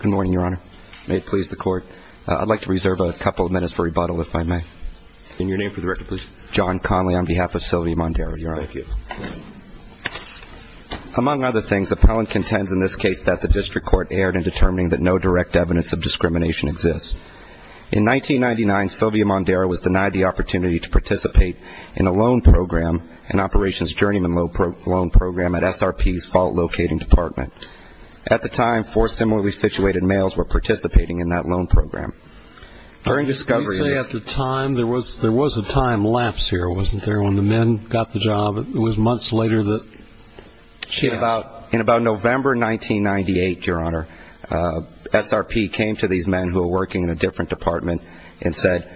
Good morning, Your Honor. May it please the Court. I'd like to reserve a couple of minutes for rebuttal, if I may. And your name for the record, please. John Conley, on behalf of Sylvia Mondero, Your Honor. Thank you. Among other things, appellant contends in this case that the district court erred in determining that no direct evidence of discrimination exists. In 1999, Sylvia Mondero was denied the opportunity to participate in a loan program, an operations journeyman loan program, at SRP's fault-locating department. At the time, four similarly-situated males were participating in that loan program. You say at the time. There was a time lapse here, wasn't there, when the men got the job? It was months later that she asked. In about November 1998, Your Honor, SRP came to these men who were working in a different department and said,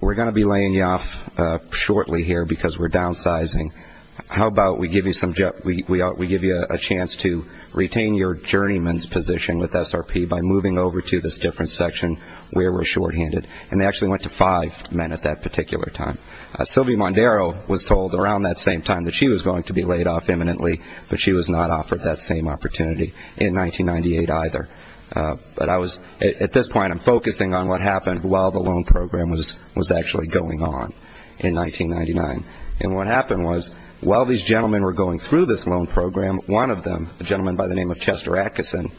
we're going to be laying you off shortly here because we're downsizing. How about we give you a chance to retain your journeyman's position with SRP by moving over to this different section where we're shorthanded? And they actually went to five men at that particular time. Sylvia Mondero was told around that same time that she was going to be laid off imminently, but she was not offered that same opportunity in 1998 either. But at this point I'm focusing on what happened while the loan program was actually going on in 1999. And what happened was while these gentlemen were going through this loan program, one of them, a gentleman by the name of Chester Atkison,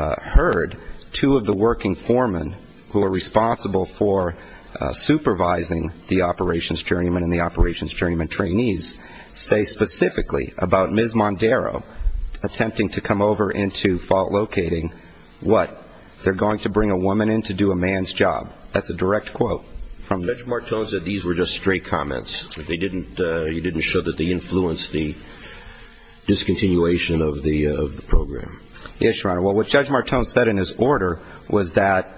heard two of the working foremen who were responsible for supervising the operations journeyman trainees say specifically about Ms. Mondero attempting to come over into fault locating what? They're going to bring a woman in to do a man's job. That's a direct quote. Judge Martone said these were just straight comments. He didn't show that they influenced the discontinuation of the program. Yes, Your Honor. Well, what Judge Martone said in his order was that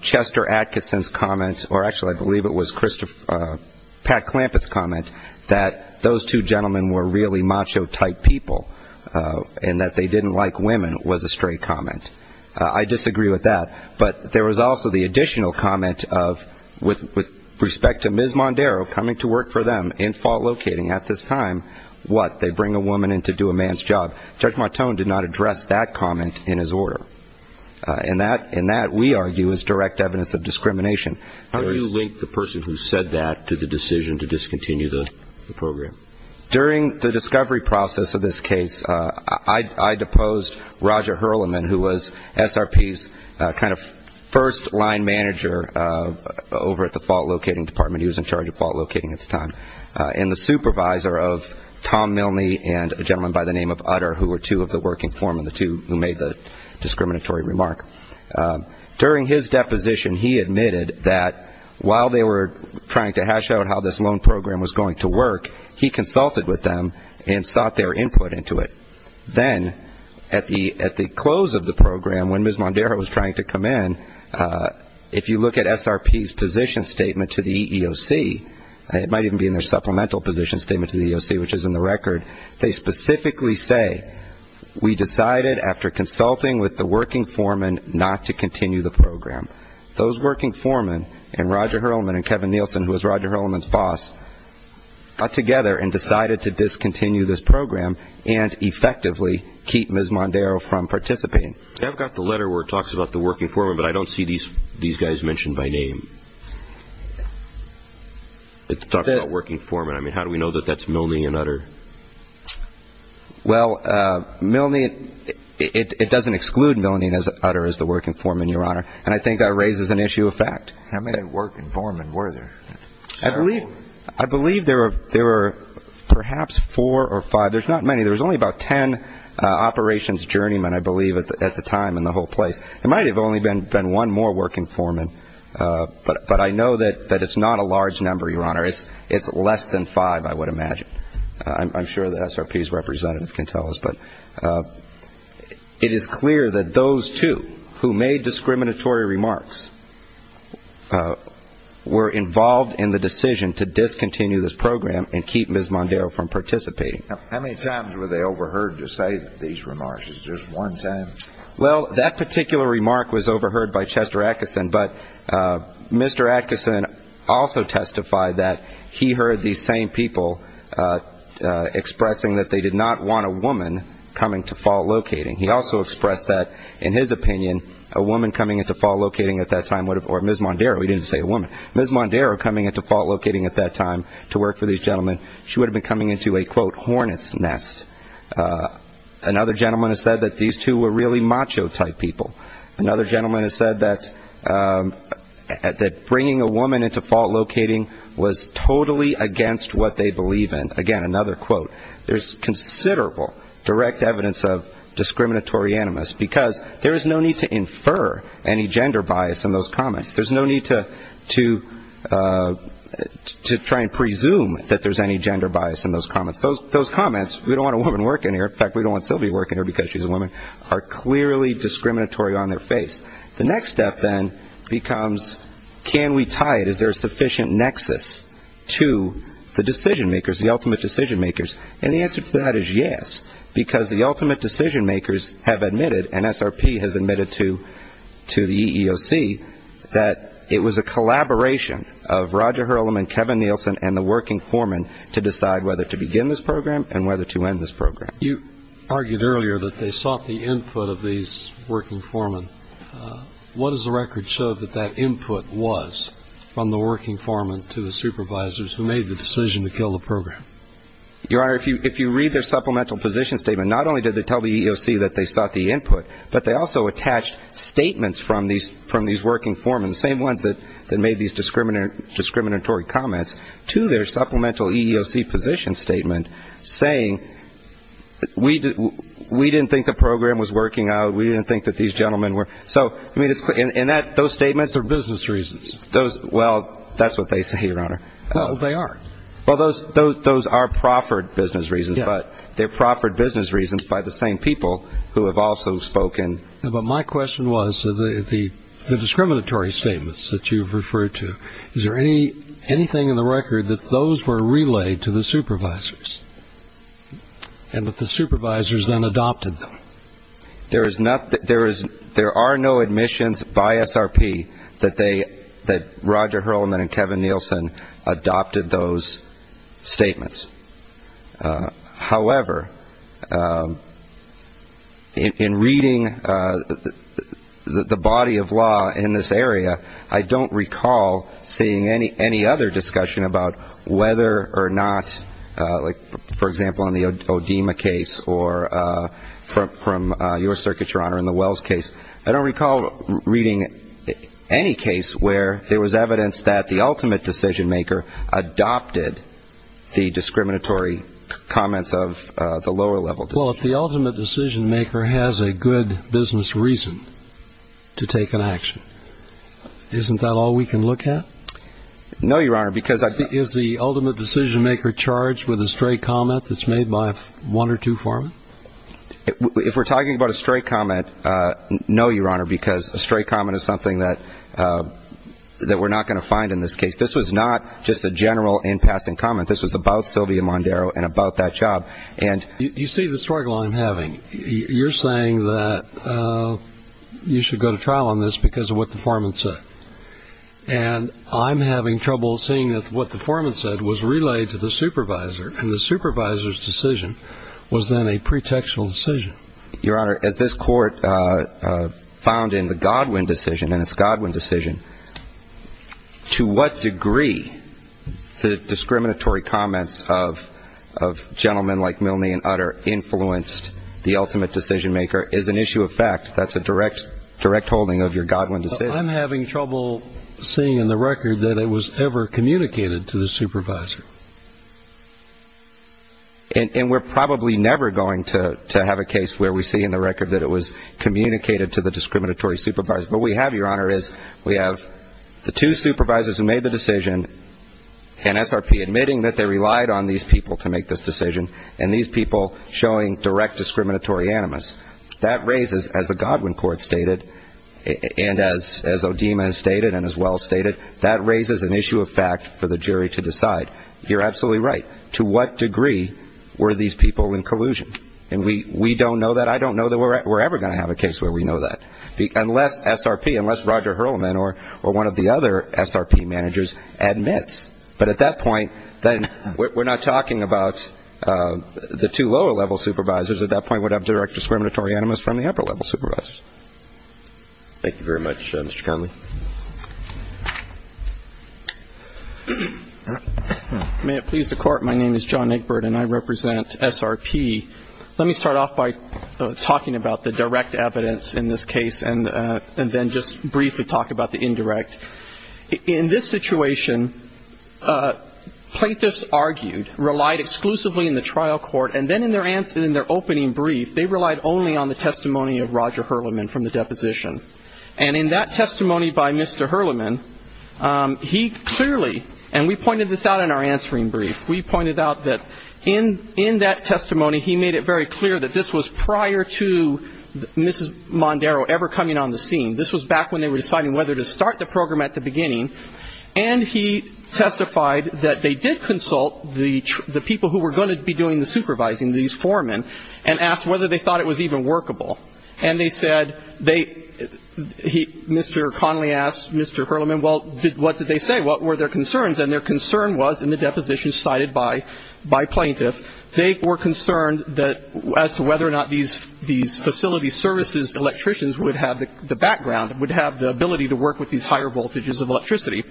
Chester Atkison's comment, or actually I believe it was Pat Clampett's comment, that those two gentlemen were really macho-type people and that they didn't like women was a straight comment. I disagree with that. But there was also the additional comment of, with respect to Ms. Mondero coming to work for them in fault locating, at this time, what? They bring a woman in to do a man's job. Judge Martone did not address that comment in his order. And that, we argue, is direct evidence of discrimination. How do you link the person who said that to the decision to discontinue the program? During the discovery process of this case, I deposed Roger Herliman, who was SRP's kind of first-line manager over at the fault locating department. He was in charge of fault locating at the time. And the supervisor of Tom Milney and a gentleman by the name of Utter, who were two of the working form and the two who made the discriminatory remark. During his deposition, he admitted that while they were trying to hash out how this loan program was going to work, he consulted with them and sought their input into it. Then at the close of the program, when Ms. Mondero was trying to come in, if you look at SRP's position statement to the EEOC, it might even be in their supplemental position statement to the EEOC, which is in the record, they specifically say, we decided after consulting with the working foreman not to continue the program. Those working foreman and Roger Herliman and Kevin Nielsen, who was Roger Herliman's boss, got together and decided to discontinue this program and effectively keep Ms. Mondero from participating. I've got the letter where it talks about the working foreman, but I don't see these guys mentioned by name. It talks about working foreman. I mean, how do we know that that's Milney and Utter? Well, Milney, it doesn't exclude Milney and Utter as the working foreman, Your Honor, and I think that raises an issue of fact. How many working foreman were there? I believe there were perhaps four or five. There's not many. There was only about ten operations journeymen, I believe, at the time in the whole place. There might have only been one more working foreman, but I know that it's not a large number, Your Honor. It's less than five, I would imagine. I'm sure that SRP's representative can tell us. But it is clear that those two who made discriminatory remarks were involved in the decision to discontinue this program and keep Ms. Mondero from participating. How many times were they overheard to say these remarks? Was it just one time? Well, that particular remark was overheard by Chester Atkinson, but Mr. Atkinson also testified that he heard these same people expressing that they did not want a woman coming to fault locating. He also expressed that, in his opinion, a woman coming at the fault locating at that time would have or Ms. Mondero, he didn't say a woman, Ms. Mondero coming at the fault locating at that time to work for these gentlemen, she would have been coming into a, quote, hornet's nest. Another gentleman has said that these two were really macho-type people. Another gentleman has said that bringing a woman into fault locating was totally against what they believe in. Again, another quote. There's considerable direct evidence of discriminatory animus because there is no need to infer any gender bias in those comments. There's no need to try and presume that there's any gender bias in those comments. Those comments, we don't want a woman working here. In fact, we don't want Sylvie working here because she's a woman, are clearly discriminatory on their face. The next step, then, becomes can we tie it? Is there a sufficient nexus to the decision makers, the ultimate decision makers? And the answer to that is yes, because the ultimate decision makers have admitted, and SRP has admitted to the EEOC, that it was a collaboration of Roger Hurlem and Kevin Nielsen and the working foreman to decide whether to begin this program and whether to end this program. You argued earlier that they sought the input of these working foremen. What does the record show that that input was from the working foreman to the supervisors who made the decision to kill the program? Your Honor, if you read their supplemental position statement, not only did they tell the EEOC that they sought the input, but they also attached statements from these working foremen, the same ones that made these discriminatory comments, to their supplemental EEOC position statement saying, we didn't think the program was working out, we didn't think that these gentlemen were. And those statements are business reasons. Well, that's what they say, Your Honor. Well, they are. Well, those are proffered business reasons, but they're proffered business reasons by the same people who have also spoken. But my question was, the discriminatory statements that you've referred to, is there anything in the record that those were relayed to the supervisors and that the supervisors then adopted them? There are no admissions by SRP that Roger Hurlman and Kevin Nielsen adopted those statements. However, in reading the body of law in this area, I don't recall seeing any other discussion about whether or not, like, for example, in the ODIMA case or from your circuit, Your Honor, in the Wells case, I don't recall reading any case where there was evidence that the ultimate decision-maker adopted the discriminatory comments of the lower level. Well, if the ultimate decision-maker has a good business reason to take an action, isn't that all we can look at? No, Your Honor, because I've been – that's made by one or two foremen? If we're talking about a straight comment, no, Your Honor, because a straight comment is something that we're not going to find in this case. This was not just a general in-passing comment. This was about Sylvia Mondero and about that job. You see the struggle I'm having. You're saying that you should go to trial on this because of what the foreman said. And I'm having trouble seeing that what the foreman said was relayed to the supervisor, and the supervisor's decision was then a pretextual decision. Your Honor, as this court found in the Godwin decision and its Godwin decision, to what degree the discriminatory comments of gentlemen like Milne and Utter influenced the ultimate decision-maker is an issue of fact. That's a direct holding of your Godwin decision. I'm having trouble seeing in the record that it was ever communicated to the supervisor. And we're probably never going to have a case where we see in the record that it was communicated to the discriminatory supervisor. What we have, Your Honor, is we have the two supervisors who made the decision, and SRP admitting that they relied on these people to make this decision, and these people showing direct discriminatory animus. That raises, as the Godwin court stated, and as O'Deema has stated and as Well stated, that raises an issue of fact for the jury to decide. You're absolutely right. To what degree were these people in collusion? And we don't know that. I don't know that we're ever going to have a case where we know that, unless SRP, unless Roger Hurlman or one of the other SRP managers admits. But at that point, then we're not talking about the two lower-level supervisors. At that point, we'd have direct discriminatory animus from the upper-level supervisors. Thank you very much, Mr. Connolly. May it please the Court, my name is John Egbert, and I represent SRP. Let me start off by talking about the direct evidence in this case, and then just briefly talk about the indirect. In this situation, plaintiffs argued, relied exclusively in the trial court, and then in their opening brief, they relied only on the testimony of Roger Hurlman from the deposition. And in that testimony by Mr. Hurlman, he clearly, and we pointed this out in our answering brief, we pointed out that in that testimony, he made it very clear that this was prior to Mrs. Mondaro ever coming on the scene. This was back when they were deciding whether to start the program at the beginning. And he testified that they did consult the people who were going to be doing the supervising, these foremen, and asked whether they thought it was even workable. And they said they Mr. Connolly asked Mr. Hurlman, well, what did they say? What were their concerns? And their concern was, in the deposition cited by plaintiff, they were concerned as to whether or not these facility services electricians would have the background, would have the ability to work with these higher voltages of electricity.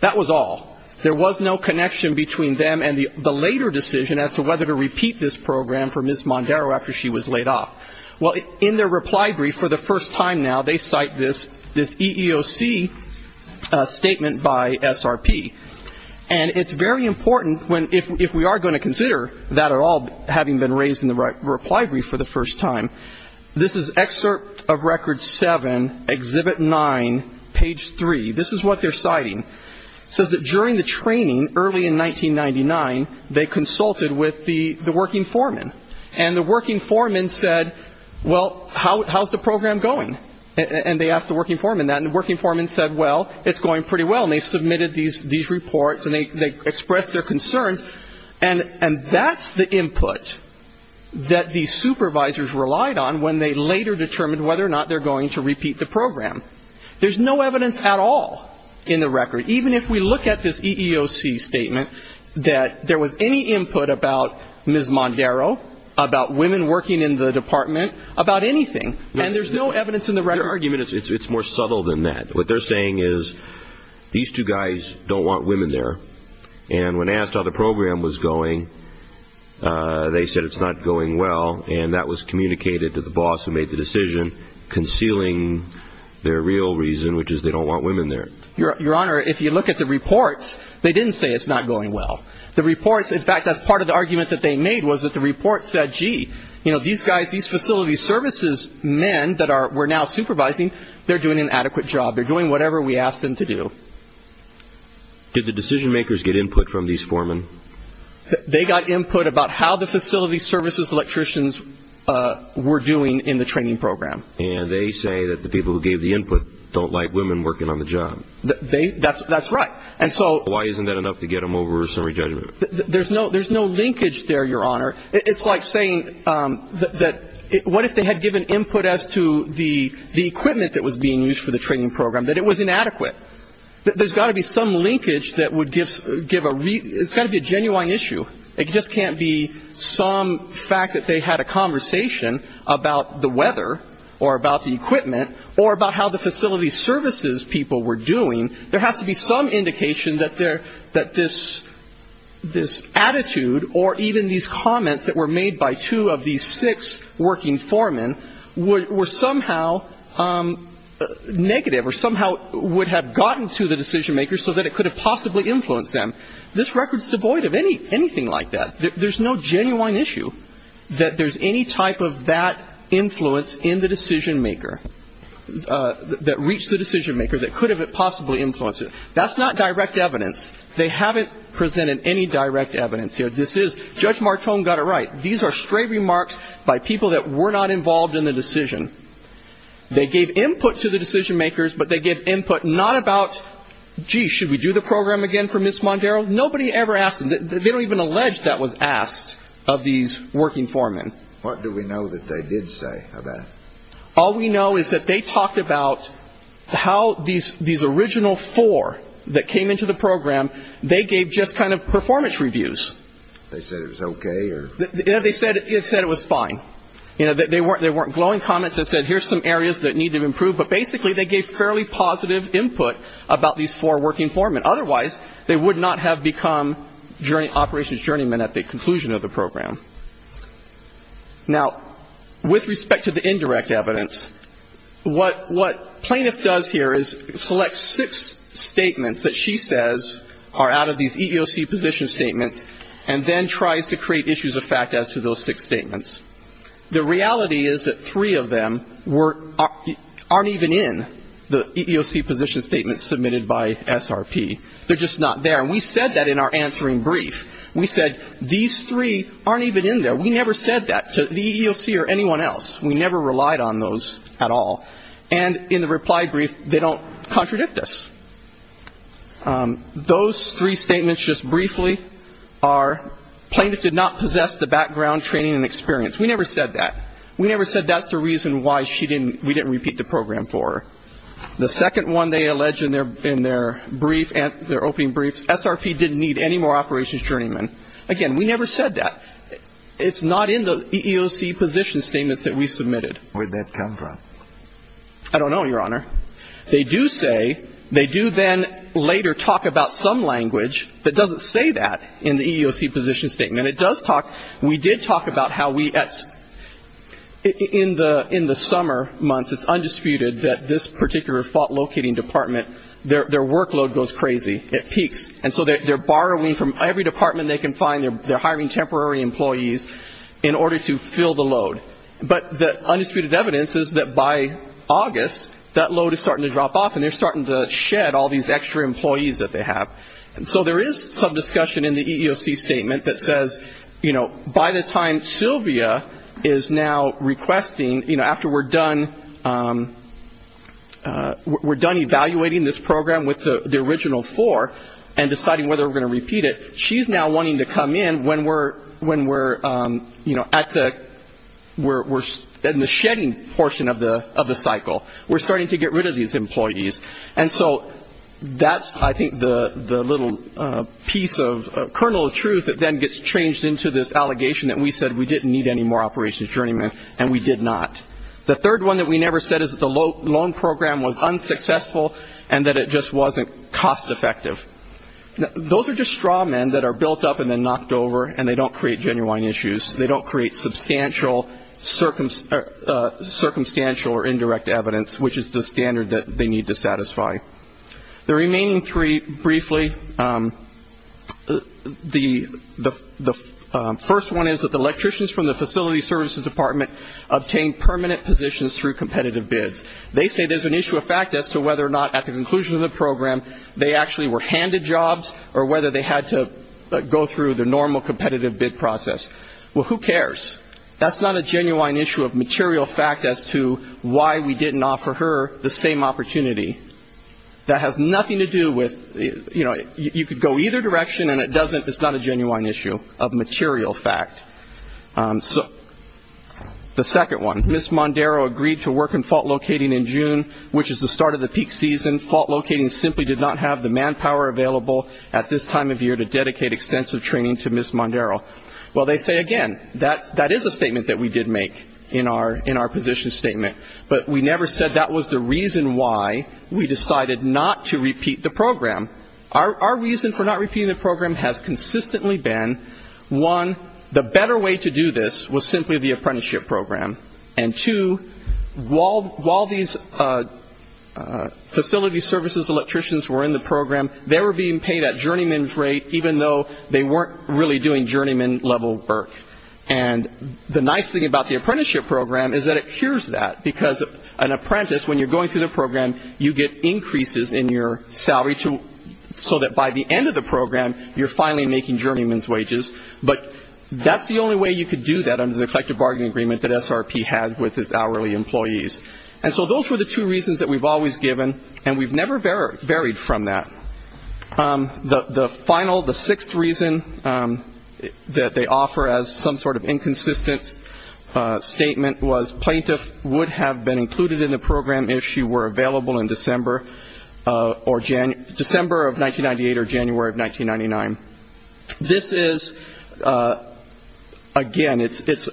That was all. There was no connection between them and the later decision as to whether to repeat this program for Mrs. Mondaro after she was laid off. Well, in their reply brief for the first time now, they cite this EEOC statement by SRP. And it's very important, if we are going to consider that at all, having been raised in the reply brief for the first time, this is Excerpt of Record 7, Exhibit 9, Page 3. This is what they're citing. It says that during the training early in 1999, they consulted with the working foremen. And the working foremen said, well, how is the program going? And they asked the working foremen that. And the working foremen said, well, it's going pretty well. And they submitted these reports, and they expressed their concerns. And that's the input that these supervisors relied on when they later determined whether or not they're going to repeat the program. There's no evidence at all in the record, even if we look at this EEOC statement, that there was any input about Ms. Mondaro, about women working in the department, about anything. And there's no evidence in the record. Your argument is it's more subtle than that. What they're saying is these two guys don't want women there. And when asked how the program was going, they said it's not going well. And that was communicated to the boss who made the decision, concealing their real reason, which is they don't want women there. Your Honor, if you look at the reports, they didn't say it's not going well. The reports, in fact, that's part of the argument that they made, was that the reports said, gee, you know, these guys, these facility services men that we're now supervising, they're doing an adequate job. They're doing whatever we ask them to do. Did the decision makers get input from these foremen? They got input about how the facility services electricians were doing in the training program. And they say that the people who gave the input don't like women working on the job. That's right. And so why isn't that enough to get them over summary judgment? There's no linkage there, Your Honor. It's like saying that what if they had given input as to the equipment that was being used for the training program, that it was inadequate. There's got to be some linkage that would give a reason. It's got to be a genuine issue. It just can't be some fact that they had a conversation about the weather or about the equipment or about how the facility services people were doing. There has to be some indication that this attitude or even these comments that were made by two of these six working foremen were somehow negative or somehow would have gotten to the decision makers so that it could have possibly influenced them. This record is devoid of anything like that. There's no genuine issue that there's any type of that influence in the decision maker that reached the decision maker that could have possibly influenced it. That's not direct evidence. They haven't presented any direct evidence here. This is Judge Martone got it right. These are stray remarks by people that were not involved in the decision. They gave input to the decision makers, but they gave input not about, gee, should we do the program again for Ms. Mondaro? Nobody ever asked them. They don't even allege that was asked of these working foremen. What do we know that they did say about it? All we know is that they talked about how these original four that came into the program, they gave just kind of performance reviews. They said it was okay? They said it was fine. They weren't glowing comments. They said here's some areas that need to improve, but basically they gave fairly positive input about these four working foremen. Otherwise, they would not have become operations journeymen at the conclusion of the program. Now, with respect to the indirect evidence, what plaintiff does here is select six statements that she says are out of these EEOC position statements and then tries to create issues of fact as to those six statements. The reality is that three of them aren't even in the EEOC position statements submitted by SRP. They're just not there. And we said that in our answering brief. We said these three aren't even in there. We never said that to the EEOC or anyone else. We never relied on those at all. And in the reply brief, they don't contradict us. Those three statements just briefly are plaintiff did not possess the background, training and experience. We never said that. We never said that's the reason why we didn't repeat the program for her. The second one they allege in their brief, their opening brief, SRP didn't need any more operations journeymen. Again, we never said that. It's not in the EEOC position statements that we submitted. Where did that come from? I don't know, Your Honor. They do say, they do then later talk about some language that doesn't say that in the EEOC position statement. It does talk, we did talk about how we, in the summer months, it's undisputed that this particular fault locating department, their workload goes crazy. It peaks. And so they're borrowing from every department they can find. They're hiring temporary employees in order to fill the load. But the undisputed evidence is that by August, that load is starting to drop off and they're starting to shed all these extra employees that they have. And so there is some discussion in the EEOC statement that says, you know, by the time Sylvia is now requesting, you know, after we're done evaluating this program with the original four and deciding whether we're going to repeat it, she's now wanting to come in when we're, you know, at the, in the shedding portion of the cycle. We're starting to get rid of these employees. And so that's, I think, the little piece of kernel of truth that then gets changed into this allegation that we said we didn't need any more operations journeymen and we did not. The third one that we never said is that the loan program was unsuccessful and that it just wasn't cost effective. Those are just straw men that are built up and then knocked over and they don't create genuine issues. They don't create substantial, circumstantial or indirect evidence, which is the standard that they need to satisfy. The remaining three, briefly, the first one is that the electricians from the facility services department obtained permanent positions through competitive bids. They say there's an issue of fact as to whether or not at the conclusion of the program they actually were handed jobs or whether they had to go through the normal competitive bid process. Well, who cares? That's not a genuine issue of material fact as to why we didn't offer her the same opportunity. That has nothing to do with, you know, you could go either direction and it doesn't, it's not a genuine issue of material fact. So the second one, Ms. Mondaro agreed to work in fault locating in June, which is the start of the peak season. Fault locating simply did not have the manpower available at this time of year to dedicate extensive training to Ms. Mondaro. Well, they say, again, that is a statement that we did make in our position statement, but we never said that was the reason why we decided not to repeat the program. Our reason for not repeating the program has consistently been, one, the better way to do this was simply the apprenticeship program, and two, while these facility services electricians were in the program, they were being paid at journeyman's rate even though they weren't really doing journeyman level work. And the nice thing about the apprenticeship program is that it cures that because an apprentice, when you're going through the program, you get increases in your salary so that by the end of the program, you're finally making journeyman's wages. But that's the only way you could do that under the collective bargaining agreement that SRP had with its hourly employees. And so those were the two reasons that we've always given, and we've never varied from that. The final, the sixth reason that they offer as some sort of inconsistent statement was plaintiffs would have been included in the program if she were available in December of 1998 or January of 1999. This is, again, it's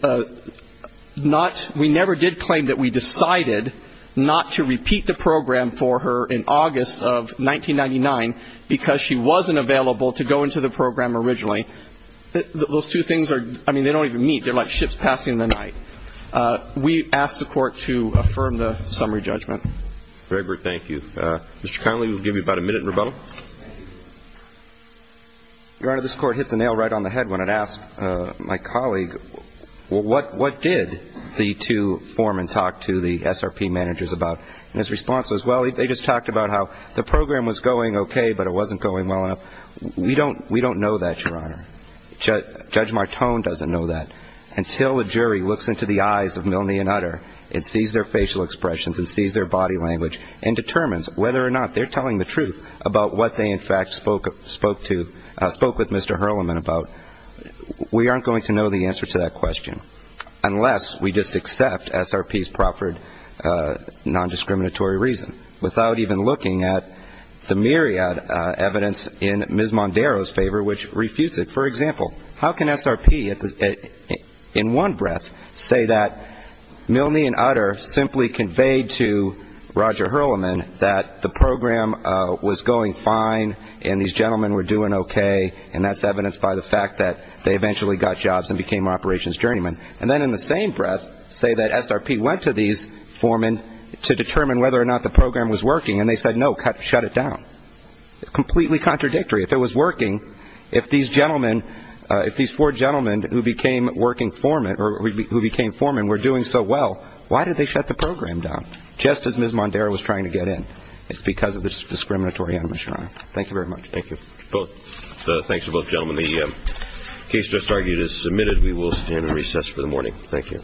not we never did claim that we decided not to repeat the program for her in August of 1999 because she wasn't available to go into the program originally. Those two things are, I mean, they don't even meet. They're like ships passing in the night. We ask the court to affirm the summary judgment. Thank you. Mr. Connolly, we'll give you about a minute in rebuttal. Your Honor, this court hit the nail right on the head when it asked my colleague, well, what did the two foremen talk to the SRP managers about? And his response was, well, they just talked about how the program was going okay, but it wasn't going well enough. We don't know that, Your Honor. Judge Martone doesn't know that. Until a jury looks into the eyes of Milne and Utter and sees their facial expressions and sees their body language and determines whether or not they're telling the truth about what they, in fact, spoke to, spoke with Mr. Hurlman about, we aren't going to know the answer to that question unless we just accept SRP's proffered nondiscriminatory reason, without even looking at the myriad evidence in Ms. Mondaro's favor which refutes it. For example, how can SRP in one breath say that Milne and Utter simply conveyed to Roger Hurlman that the program was going fine and these gentlemen were doing okay and that's evidenced by the fact that they eventually got jobs and became operations journeymen, and then in the same breath say that SRP went to these foremen to determine whether or not the program was working and they said, no, shut it down. Completely contradictory. If it was working, if these gentlemen, if these four gentlemen who became foremen were doing so well, why did they shut the program down just as Ms. Mondaro was trying to get in? It's because of the discriminatory animation, Your Honor. Thank you very much. Thank you. Well, thanks to both gentlemen. The case just argued is submitted. We will stand in recess for the morning. Thank you. Thank you. Thank you. Thank you.